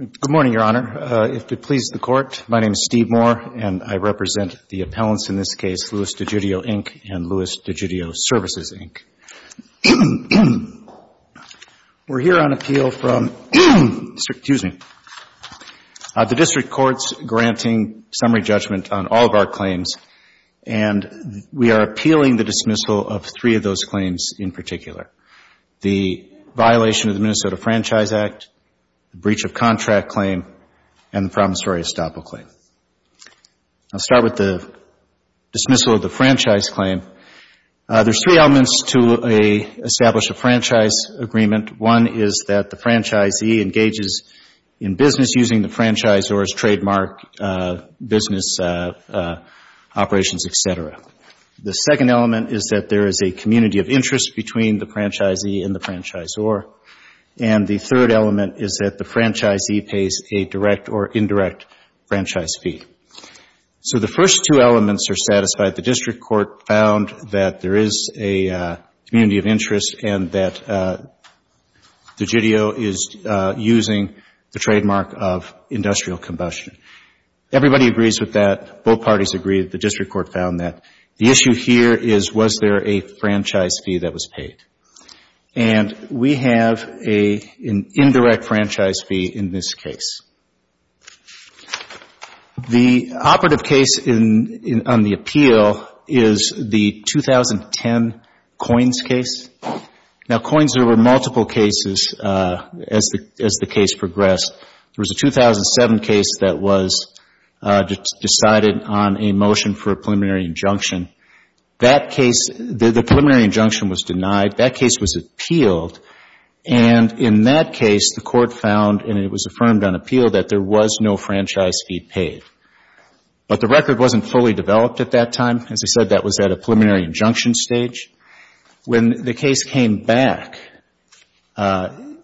Good morning, Your Honor. If it pleases the Court, my name is Steve Moore, and I represent the appellants in this case, Louis DeGidio, Inc. and Louis DeGidio Services, Inc. We're here on appeal from the District Courts granting summary judgment on all of our claims and we are appealing the dismissal of three of those claims in particular, the violation of the Minnesota Franchise Act, the breach of contract claim, and the promissory estoppel claim. I'll start with the dismissal of the franchise claim. There's three elements to establish a franchise agreement. One is that the franchisee engages in business using the franchise or his operations, etc. The second element is that there is a community of interest between the franchisee and the franchisor. And the third element is that the franchisee pays a direct or indirect franchise fee. So the first two elements are satisfied. The District Court found that there is a community of interest and that DeGidio is using the trademark of industrial combustion. Everybody agrees with that. Both parties agree that the District Court found that. The issue here is was there a franchise fee that was paid? And we have an indirect franchise fee in this case. The operative case on the appeal is the 2010 Coins case. Now, Coins, there were two cases. One was decided on a motion for a preliminary injunction. That case, the preliminary injunction was denied. That case was appealed. And in that case, the Court found, and it was affirmed on appeal, that there was no franchise fee paid. But the record wasn't fully developed at that time. As I said, that was at a preliminary injunction stage. When the case came back and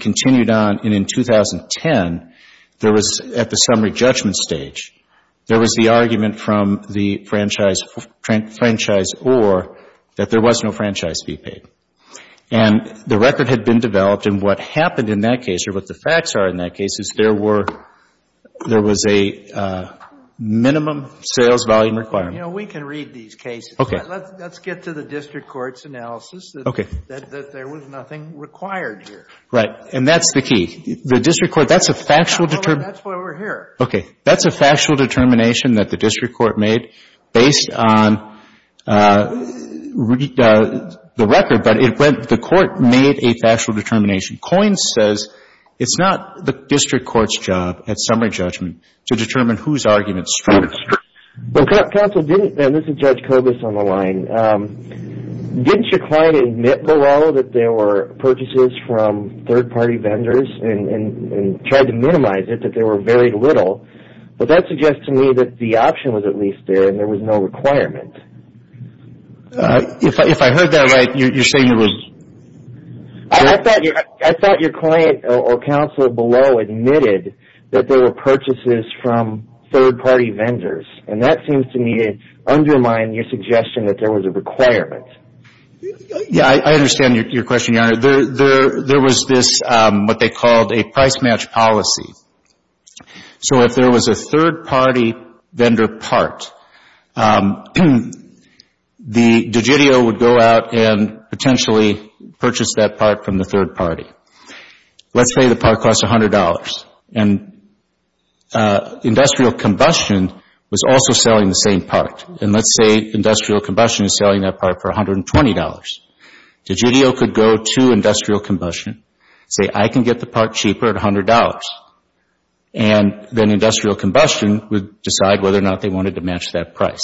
continued on, and in 2010, there was, at the summary judgment stage, there was the argument from the franchiseor that there was no franchise fee paid. And the record had been developed. And what happened in that case, or what the facts are in that case, is there were, there was a minimum sales volume requirement. You know, we can read these cases. Okay. Let's get to the district court's analysis that there was nothing required here. Right. And that's the key. The district court, that's a factual determination. That's why we're here. Okay. That's a factual determination that the district court made based on the record. But it went, the court made a factual determination. Coins says it's not the district court's job at summary judgment to determine whose argument's true. Well, counsel, didn't, and this is Judge Kobus on the line, didn't your client admit below that there were purchases from third-party vendors, and tried to minimize it, that there were very little? But that suggests to me that the option was at least there, and there was no requirement. If I heard that right, you say you was... I thought your client or counsel below admitted that there were purchases from third-party vendors, and that seems to me to undermine your suggestion that there was a requirement. Yeah, I understand your question, Your Honor. There was this, what they called a price match policy. So if there was a third-party vendor part, the DIGITIO would go out and potentially purchase that part from the third party. Let's say the part costs $100, and industrial combustion was also selling the same part. And let's say industrial combustion is selling that part for $120. DIGITIO could go to industrial combustion, say I can get the part cheaper at $100, and then industrial combustion would decide whether or not they wanted to match that price.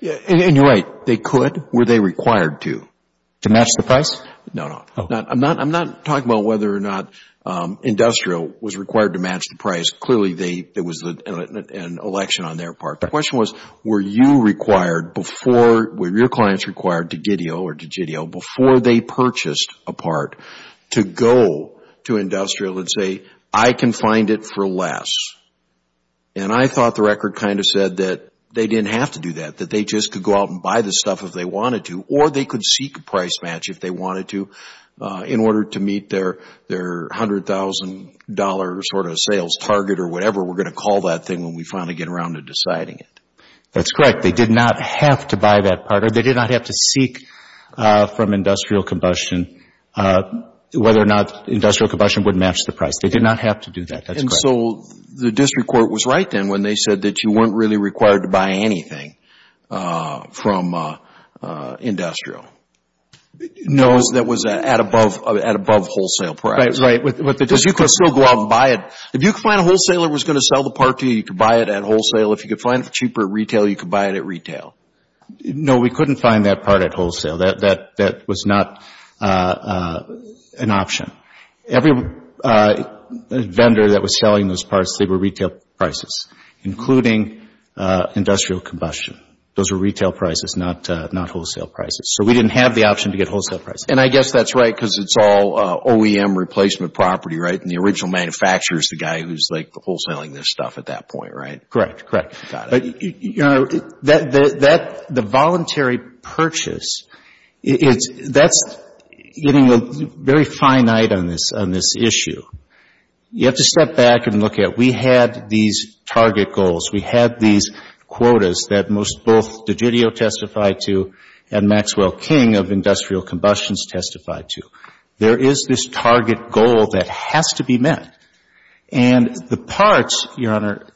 And you're right. They could. Were they required to? To match the price? No, no. I'm not talking about whether or not industrial was required to match the price. Clearly, there was an election on their part. The question was, were you required before, were your clients required to DIGITIO or DIGITIO before they purchased a part to go to industrial and say, I can find it for less? And I thought the record kind of said that they didn't have to do that, that they just could go out and buy the stuff if they wanted to, or they could seek a price match if they or whatever, we're going to call that thing when we finally get around to deciding it. That's correct. They did not have to buy that part, or they did not have to seek from industrial combustion whether or not industrial combustion would match the price. They did not have to do that. That's correct. And so the district court was right then when they said that you weren't really required to buy anything from industrial. No. Because that was at above wholesale price. Right, right. With the district court. If you could find a wholesaler who was going to sell the part to you, you could buy it at wholesale. If you could find it cheaper at retail, you could buy it at retail. No, we couldn't find that part at wholesale. That was not an option. Every vendor that was selling those parts, they were retail prices, including industrial combustion. Those were retail prices, not wholesale prices. So we didn't have the option to get wholesale prices. I guess that's right because it's all OEM replacement property, right? And the original manufacturer is the guy who's like the wholesaling this stuff at that point, right? Correct, correct. The voluntary purchase, that's getting very finite on this issue. You have to step back and look at we had these target goals. We had these targets. There is this target goal that has to be met. And the parts, Your Honor,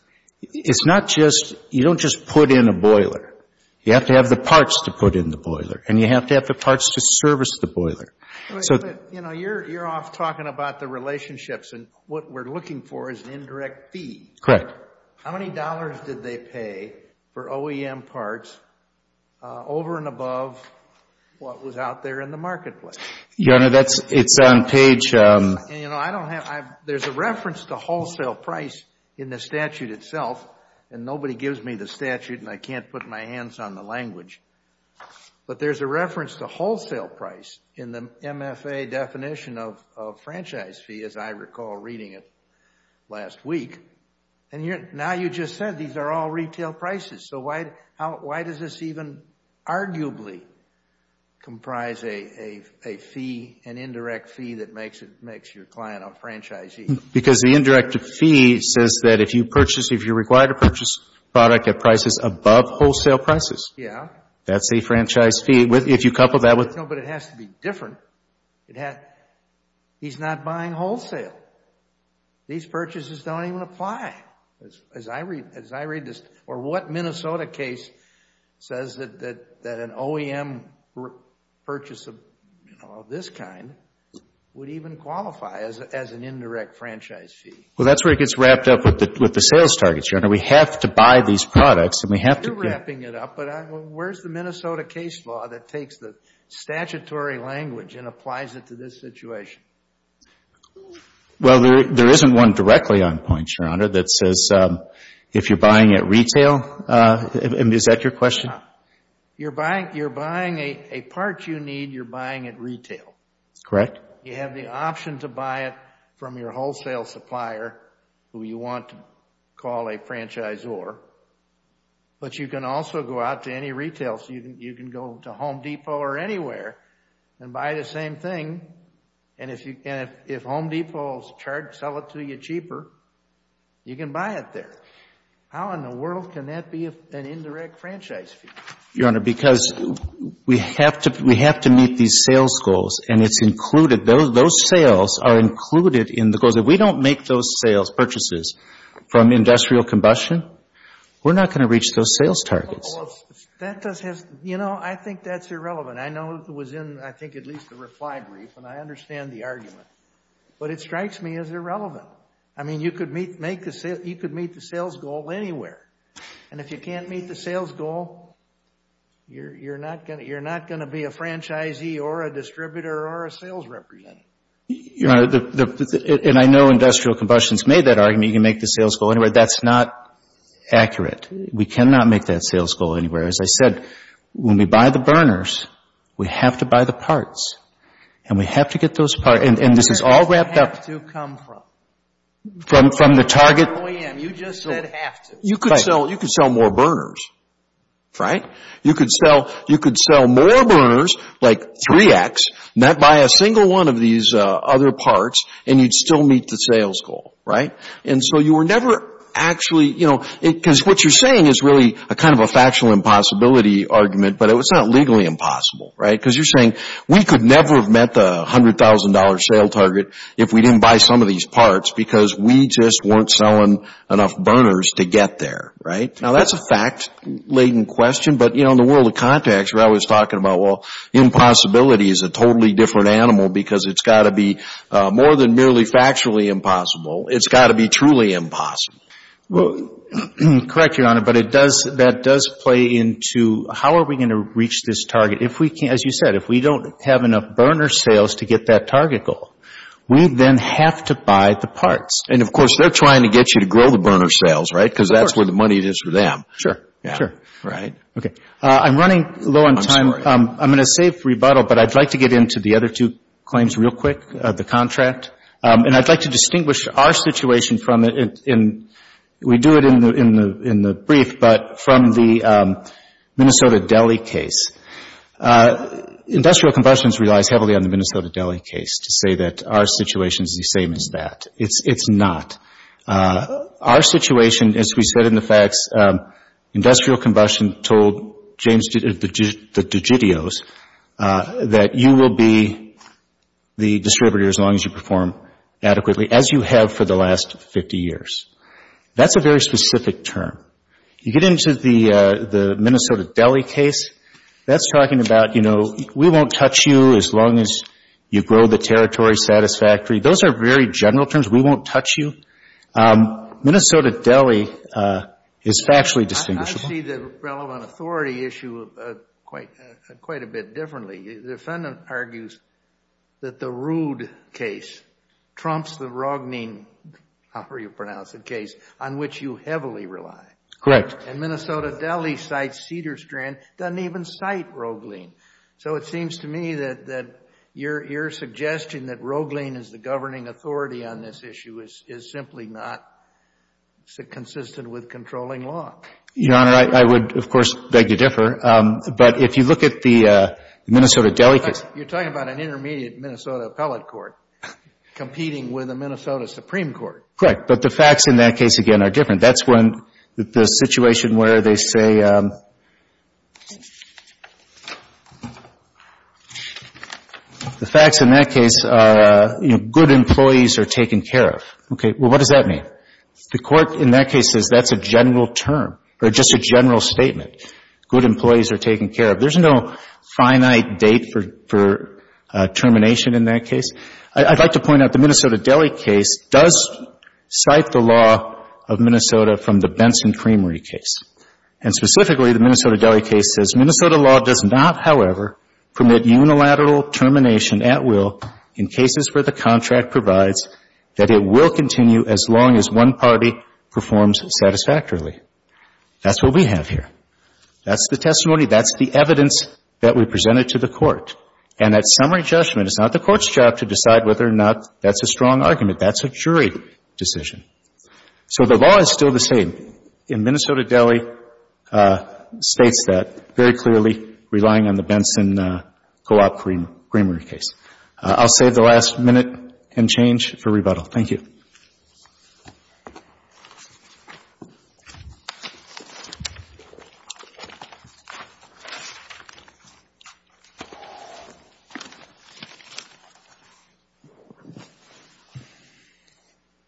it's not just, you don't just put in a boiler. You have to have the parts to put in the boiler. And you have to have the parts to service the boiler. You know, you're off talking about the relationships and what we're looking for is an indirect fee. Correct. How many dollars did they pay for OEM parts over and above what was out there in the marketplace? Your Honor, it's on page... There's a reference to wholesale price in the statute itself. And nobody gives me the statute and I can't put my hands on the language. But there's a reference to wholesale price in the MFA definition of franchise fee, as I recall reading it last week. And now you just said these are all retail prices. So why does this even arguably comprise an indirect fee that makes your client a franchisee? Because the indirect fee says that if you purchase, if you're required to purchase product at prices above wholesale prices. Yeah. That's a franchise fee. If you couple that with... No, but it has to be different. He's not buying wholesale. These purchases don't even apply, as I read this. Or what Minnesota case says that an OEM purchase of this kind would even qualify as an indirect franchise fee? Well, that's where it gets wrapped up with the sales targets, Your Honor. We have to buy these products and we have to... You're wrapping it up, but where's the Minnesota case law that takes the statutory language and applies it to this situation? Well, there isn't one directly on point, Your Honor, that says if you're buying at retail, and is that your question? You're buying a part you need, you're buying at retail. Correct. You have the option to buy it from your wholesale supplier, who you want to call a franchisor. But you can also go out to any retail. So you can go to Home Depot or anywhere and buy the same thing. And if Home Depot will sell it to you cheaper, you can buy it there. How in the world can that be an indirect franchise fee? Your Honor, because we have to meet these sales goals and it's included. Those sales are included in the goals. If we don't make those sales purchases from industrial combustion, we're not going to reach those sales targets. Well, that does have... You know, I think that's irrelevant. I know it was in, I think, at least the reply brief. And I understand the argument. But it strikes me as irrelevant. I mean, you could meet the sales goal anywhere. And if you can't meet the sales goal, you're not going to be a franchisee or a distributor or a sales representative. Your Honor, and I know industrial combustion's made that argument, you can make the sales goal anywhere. That's not accurate. We cannot make that sales goal anywhere. As I said, when we buy the burners, we have to buy the parts. And we have to get those parts. And this is all wrapped up... Where does the have to come from? From the target... Oh, yeah, you just said have to. You could sell more burners, right? You could sell more burners, like 3X, not buy a single one of these other parts, and you'd still meet the sales goal, right? And so you were never actually, you know, because what you're saying is really a kind of a factual impossibility argument, but it's not legally impossible, right? Because you're saying we could never have met the $100,000 sale target if we didn't buy some of these parts, because we just weren't selling enough burners to get there, right? Now, that's a fact-laden question. But, you know, in the world of contacts, we're always talking about, well, impossibility is a totally different animal because it's got to be more than merely factually impossible. It's got to be truly impossible. Well, correct, Your Honor, but it does, that does play into how are we going to reach this target? If we can't, as you said, if we don't have enough burner sales to get that target goal, we then have to buy the parts. And, of course, they're trying to get you to grow the burner sales, right? Because that's where the money is for them. Sure, sure. Right. Okay. I'm running low on time. I'm going to save rebuttal, but I'd like to get into the other two claims real quick, the contract. And I'd like to distinguish our situation from it, and we do it in the brief, but from the Minnesota-Delhi case. Industrial combustion relies heavily on the Minnesota-Delhi case to say that our situation is the same as that. It's not. Our situation, as we said in the facts, industrial combustion told James DeGidios that you will be the distributor as long as you perform adequately, as you have for the last 50 years. That's a very specific term. You get into the Minnesota-Delhi case, that's talking about, you know, we won't touch you as long as you grow the territory satisfactorily. Those are very general terms. We won't touch you. Minnesota-Delhi is factually distinguishable. I see the relevant authority issue quite a bit differently. The defendant argues that the Roode case trumps the Roggling, however you pronounce the case, on which you heavily rely. Correct. And Minnesota-Delhi cites Cedars-Strand, doesn't even cite Roggling. So it seems to me that your suggestion that Roggling is the governing authority on this issue is simply not consistent with controlling law. Your Honor, I would, of course, beg to differ. But if you look at the Minnesota-Delhi case... You're talking about an intermediate Minnesota appellate court competing with a Minnesota Supreme Court. Correct. But the facts in that case, again, are different. That's when the situation where they say... The facts in that case are, you know, good employees are taken care of. Okay. Well, what does that mean? The court in that case says that's a general term. Or just a general statement. Good employees are taken care of. There's no finite date for termination in that case. I'd like to point out the Minnesota-Delhi case does cite the law of Minnesota from the Benson-Creamery case. And specifically, the Minnesota-Delhi case says... That's what we have here. That's the testimony. That's the evidence that we presented to the court. And that summary judgment is not the court's job to decide whether or not that's a strong argument. That's a jury decision. So the law is still the same. And Minnesota-Delhi states that very clearly, relying on the Benson-Co-op-Creamery case. I'll save the last minute and change for rebuttal. Thank you.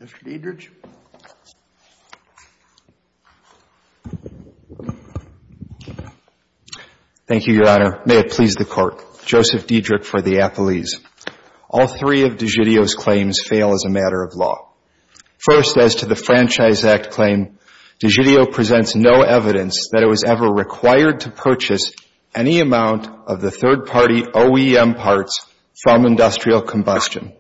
Mr. Diederich. Thank you, Your Honor. May it please the Court. Joseph Diederich for the appellees. All three of DiGidio's claims fail as a matter of law. First, as to the Franchise Act claim, DiGidio presents no evidence that it was ever required to purchase any amount of the third-party OEM parts from industrial combustion.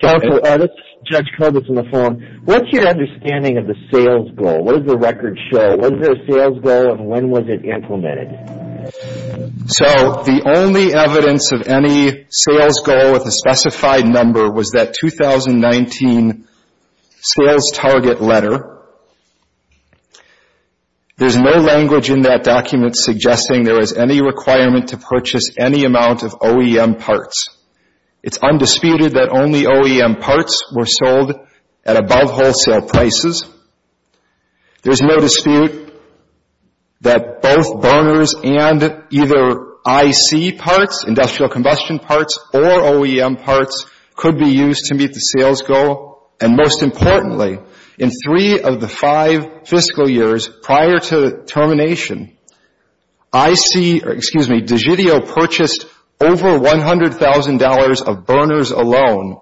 Counsel, this is Judge Kovats on the phone. What's your understanding of the sales goal? What does the record show? What is the sales goal and when was it implemented? So, the only evidence of any sales goal with a specified number was that 2019 sales target letter. There's no language in that document suggesting there was any requirement to purchase any amount of OEM parts. It's undisputed that only OEM parts were sold at above wholesale prices. There's no dispute that both burners and either IC parts, industrial combustion parts, or OEM parts, could be used to meet the sales goal. And most importantly, in three of the five fiscal years prior to termination, I see, or excuse me, DiGidio purchased over $100,000 of burners alone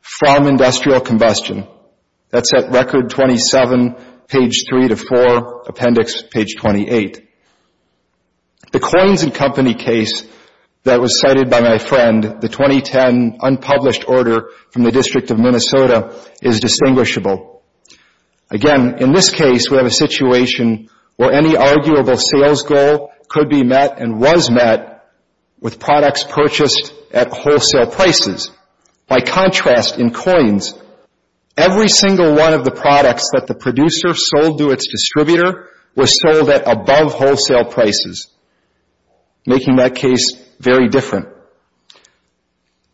from industrial combustion. That's at record 27, page 3 to 4, appendix page 28. The 2010 unpublished order from the District of Minnesota is distinguishable. Again, in this case, we have a situation where any arguable sales goal could be met and was met with products purchased at wholesale prices. By contrast, in coins, every single one of the products that the producer sold to its distributor was sold at above wholesale prices, making that case very different.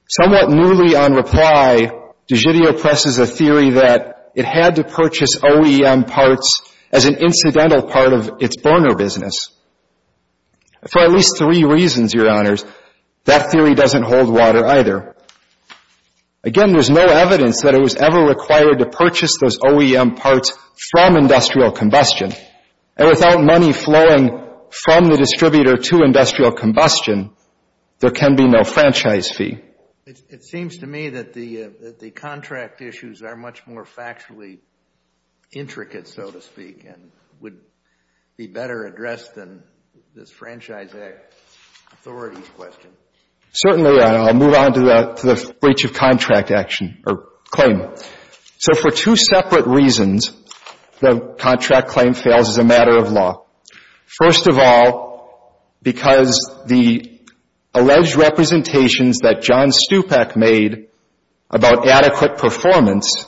Somewhat newly on reply, DiGidio presses a theory that it had to purchase OEM parts as an incidental part of its burner business. For at least three reasons, Your Honors, that theory doesn't hold water either. Again, there's no evidence that it was ever required to purchase those OEM parts from industrial combustion. And without money flowing from the distributor to industrial combustion, there can be no franchise fee. It seems to me that the contract issues are much more factually intricate, so to speak, and would be better addressed than this franchise authority question. Certainly, I'll move on to the breach of contract action or claim. So for two separate reasons, the contract claim fails as a matter of law. First of all, because the alleged representations that John Stupak made about adequate performance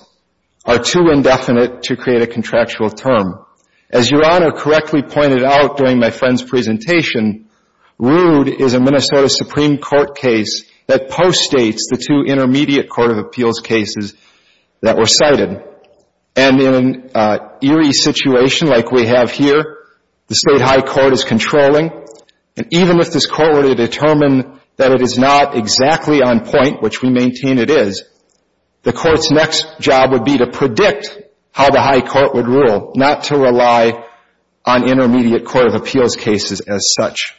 are too indefinite to create a contractual term. As Your Honor correctly pointed out during my friend's presentation, Rood is a Minnesota Supreme Court case that post-states the two intermediate Court of Appeals cases that were cited. And in an eerie situation like we have here, the state high court is controlling. And even if this court were to determine that it is not exactly on point, which we maintain it is, the court's next job would be to predict how the high court would rule, not to rely on intermediate Court of Appeals cases as such.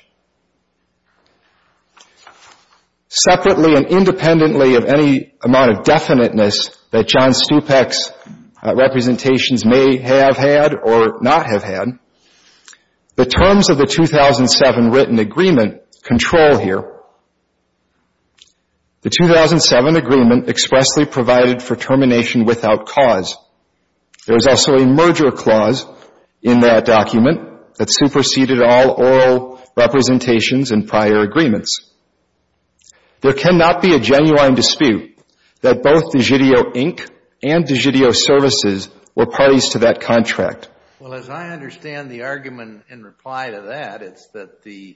Separately and independently of any amount of definiteness that John Stupak's representations may have had or not have had, the terms of the 2007 written agreement control here. The 2007 agreement expressly provided for termination without cause. There is also a merger clause in that document that superseded all oral representations and prior agreements. There cannot be a genuine dispute that both Digitio Inc. and Digitio Services were parties to that contract. Well, as I understand the argument in reply to that, it's that the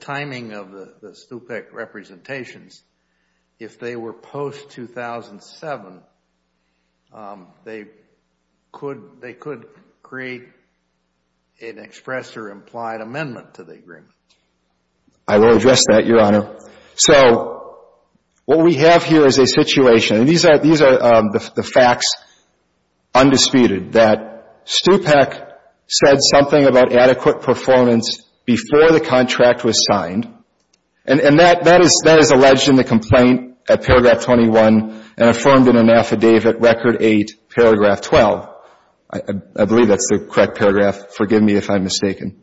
timing of the Stupak representations, if they were post-2007, they could create an express or implied amendment to the agreement. I will address that, Your Honor. So what we have here is a situation, and these are the facts undisputed that Stupak said something about adequate performance before the contract was signed, and that is alleged in the complaint at paragraph 21 and affirmed in an affidavit record 8, paragraph 12. I believe that's the correct paragraph. Forgive me if I'm mistaken.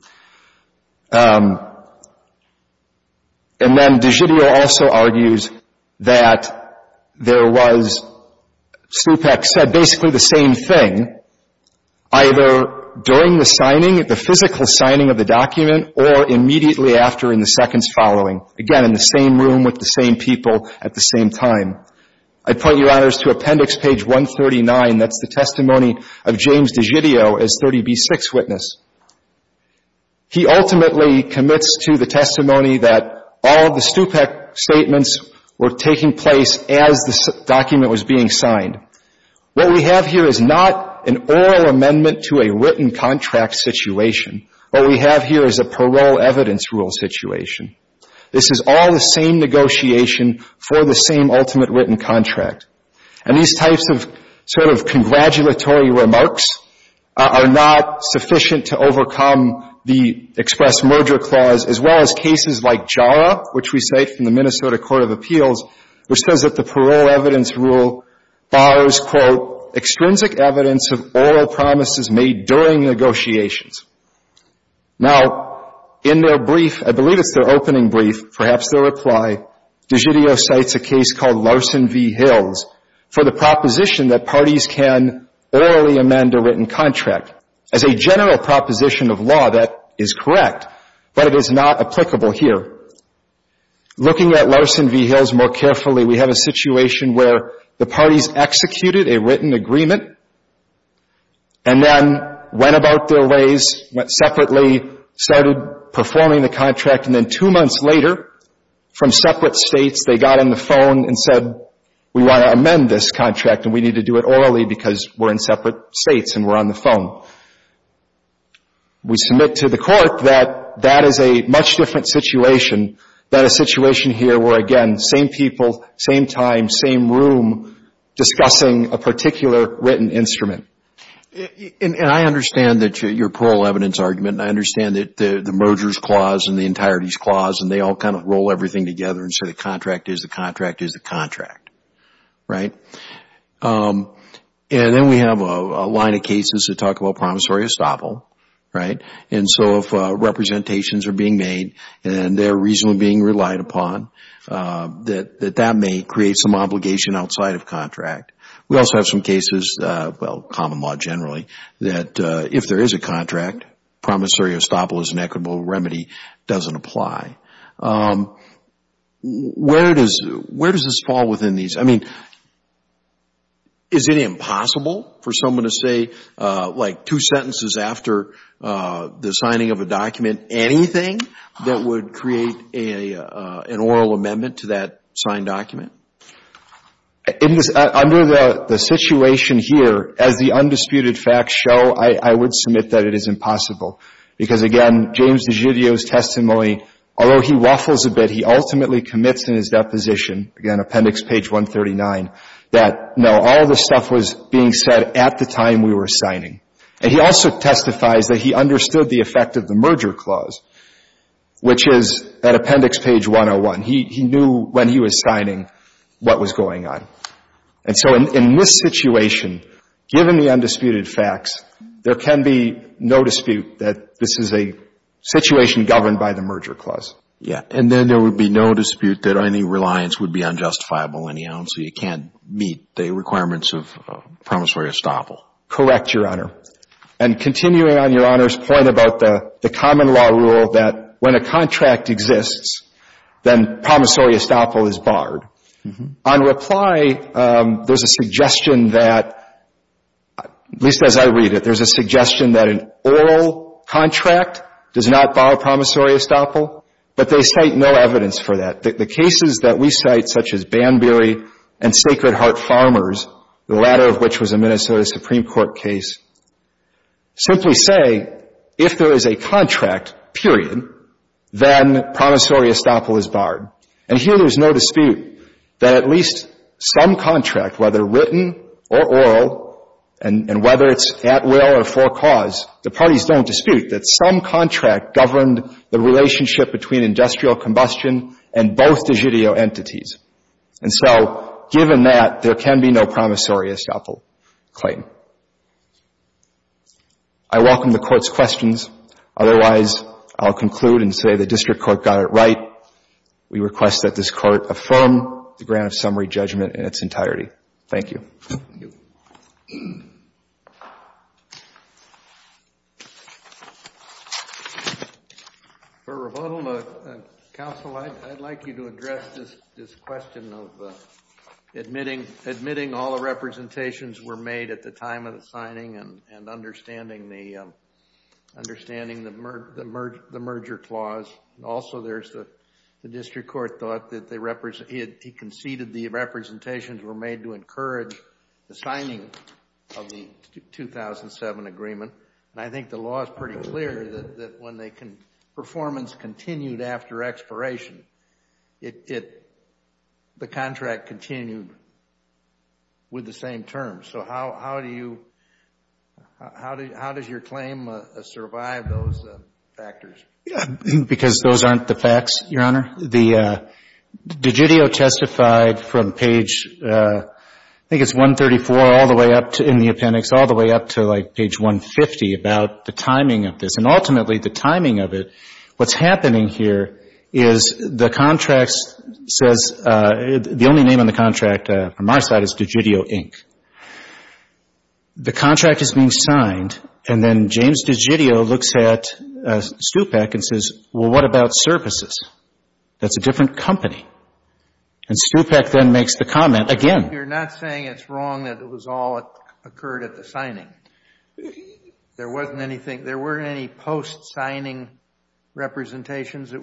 And then Digitio also argues that there was, Stupak said basically the same thing either during the signing, the physical signing of the document, or immediately after in the seconds following. Again, in the same room with the same people at the same time. I'd point you, Your Honors, to appendix page 139. That's the testimony of James Digitio as 30b-6 witness. He ultimately commits to the testimony that all of the Stupak statements were taking place as the document was being signed. What we have here is not an oral amendment to a written contract situation. What we have here is a parole evidence rule situation. This is all the same negotiation for the same ultimate written contract, and these types of sort of congratulatory remarks are not sufficient to overcome the express merger clause as well as cases like JARA, which we cite from the Minnesota Court of Appeals, which says that the parole evidence rule bars, quote, extrinsic evidence of oral promises made during negotiations. Now, in their brief, I believe it's their opening brief, perhaps their reply, Digitio cites a case called Larson v. Hills for the proposition that parties can orally amend a written contract. As a general proposition of law, that is correct, but it is not applicable here. Looking at Larson v. Hills more carefully, we have a situation where the parties executed a written agreement and then went about their ways, went separately, started performing the contract, and then two months later, from separate states, they got on the phone and said, we want to amend this contract and we need to do it orally because we're in separate states and we're on the phone. We submit to the court that that is a much different situation than a situation here where, again, same people, same time, same room, discussing a particular written instrument. And I understand that your parole evidence argument and I understand that the merger's clause and the entirety's clause and they all kind of roll everything together and say the contract is the contract is the contract, right? And then we have a line of cases that talk about promissory estoppel, right? And so if representations are being made and they're reasonably being relied upon, that that may create some obligation outside of contract. We also have some cases, well, common law generally, that if there is a contract, promissory estoppel as an equitable remedy doesn't apply. Where does this fall within these? I mean, is it impossible for someone to say like two sentences after the signing of a document, anything that would create an oral amendment to that signed document? Under the situation here, as the undisputed facts show, that it is impossible because again, James DiGidio's testimony, although he waffles a bit, he ultimately commits in his deposition, again, appendix page 139, that no, all the stuff was being said at the time we were signing. And he also testifies that he understood the effect of the merger clause, which is at appendix page 101. He knew when he was signing what was going on. And so in this situation, given the undisputed facts, there can be no dispute that this is a situation governed by the merger clause. Yeah. And then there would be no dispute that any reliance would be unjustifiable anyhow, and so you can't meet the requirements of promissory estoppel. Correct, Your Honor. And continuing on Your Honor's point about the common law rule that when a contract exists, then promissory estoppel is barred. On reply, there's a suggestion that, at least as I read it, there's a suggestion that an oral contract does not bar promissory estoppel, but they cite no evidence for that. The cases that we cite, such as Banbury and Sacred Heart Farmers, the latter of which was a Minnesota Supreme Court case, simply say, if there is a contract, period, then promissory estoppel is barred. And here there's no dispute that at least some contract, whether written or oral, and whether it's at will or for cause, the parties don't dispute that some contract governed the relationship between industrial combustion and both de judeo entities. And so given that, there can be no promissory estoppel. Claim. I welcome the Court's questions. Otherwise, I'll conclude and say the District Court got it right. We request that this Court affirm the grant of summary judgment in its entirety. Thank you. Thank you. For rebuttal, Counsel, I'd like you to address this question of admitting all the representations were made at the time of the signing and understanding the understanding the merger clause. Also, there's the District Court thought that he conceded the representations were made to encourage the signing of the 2007 agreement. And I think the law is pretty clear that when they can performance continued after expiration, the contract continued with the same terms. So how do you how does your claim survive those factors? Because those aren't the facts, Your Honor. The de judeo testified from page I think it's 134 all the way up to in the appendix all the way up to like page 150 about the timing of this. And ultimately the timing of it, what's happening here is the contracts says the only name on the contract from our side is de judeo Inc. The contract is being signed and then James de judeo looks at Stupak and says, well, what about services? That's a different company. And Stupak then makes the comment again. You're not saying it's wrong that it was all occurred at the signing. There wasn't anything there weren't any post signing representations. There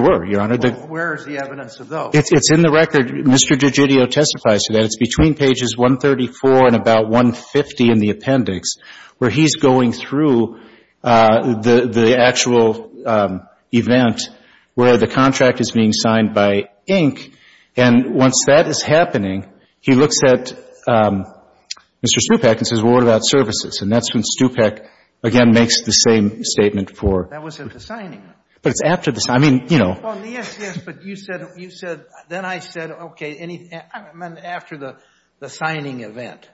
were, Your Honor. Where is the evidence of those? It's in the record. Mr. de judeo testifies to that. It's between pages 134 and about 150 in the appendix where he's going through the actual event where the contract is being signed by Inc. And once that is happening, he looks at Mr. Stupak and says, well, what about services? And that's when Stupak again makes the same statement for. That wasn't the signing. But it's after this. I mean, you know. Well, yes, yes. But you said you said then I said, OK, after the signing event.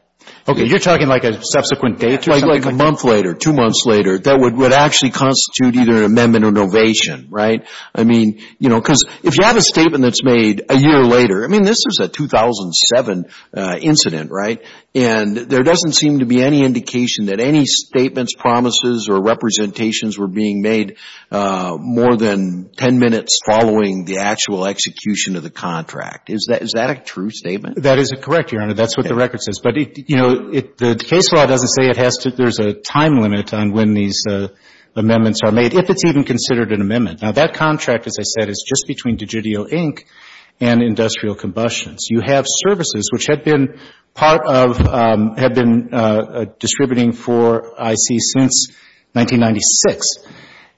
OK, you're talking like a subsequent date, like a month later, two months later, that would actually constitute either an amendment or an ovation, right? I mean, you know, because if you have a statement that's made a year later, I mean, this is a 2007 incident, right? And there doesn't seem to be any indication that any statements, promises or representations were being made more than 10 minutes following the actual execution of the contract. Is that a true statement? That is correct, Your Honor. That's what the record says. But, you know, the case law doesn't say it has to there's a time limit on when these amendments are made, if it's even considered an amendment. Now, that contract, as I said, is just between Digitio Inc. and Industrial Combustions. You have services which had been part of had been distributing for IC since 1996.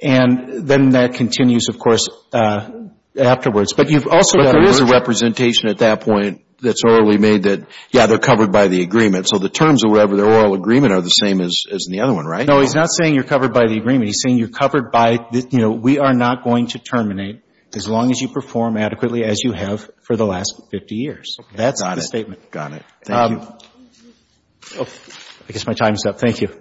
And then that continues, of course, afterwards. But you've also got a representation at that point that's orally made that, yeah, they're covered by the agreement. So the terms of whatever their oral agreement are the same as in the other one, right? No, he's not saying you're covered by the agreement. He's saying you're covered by, you know, we are not going to terminate as long as you perform adequately as you have for the last 50 years. That's the statement. Got it. I guess my time's up. Thank you.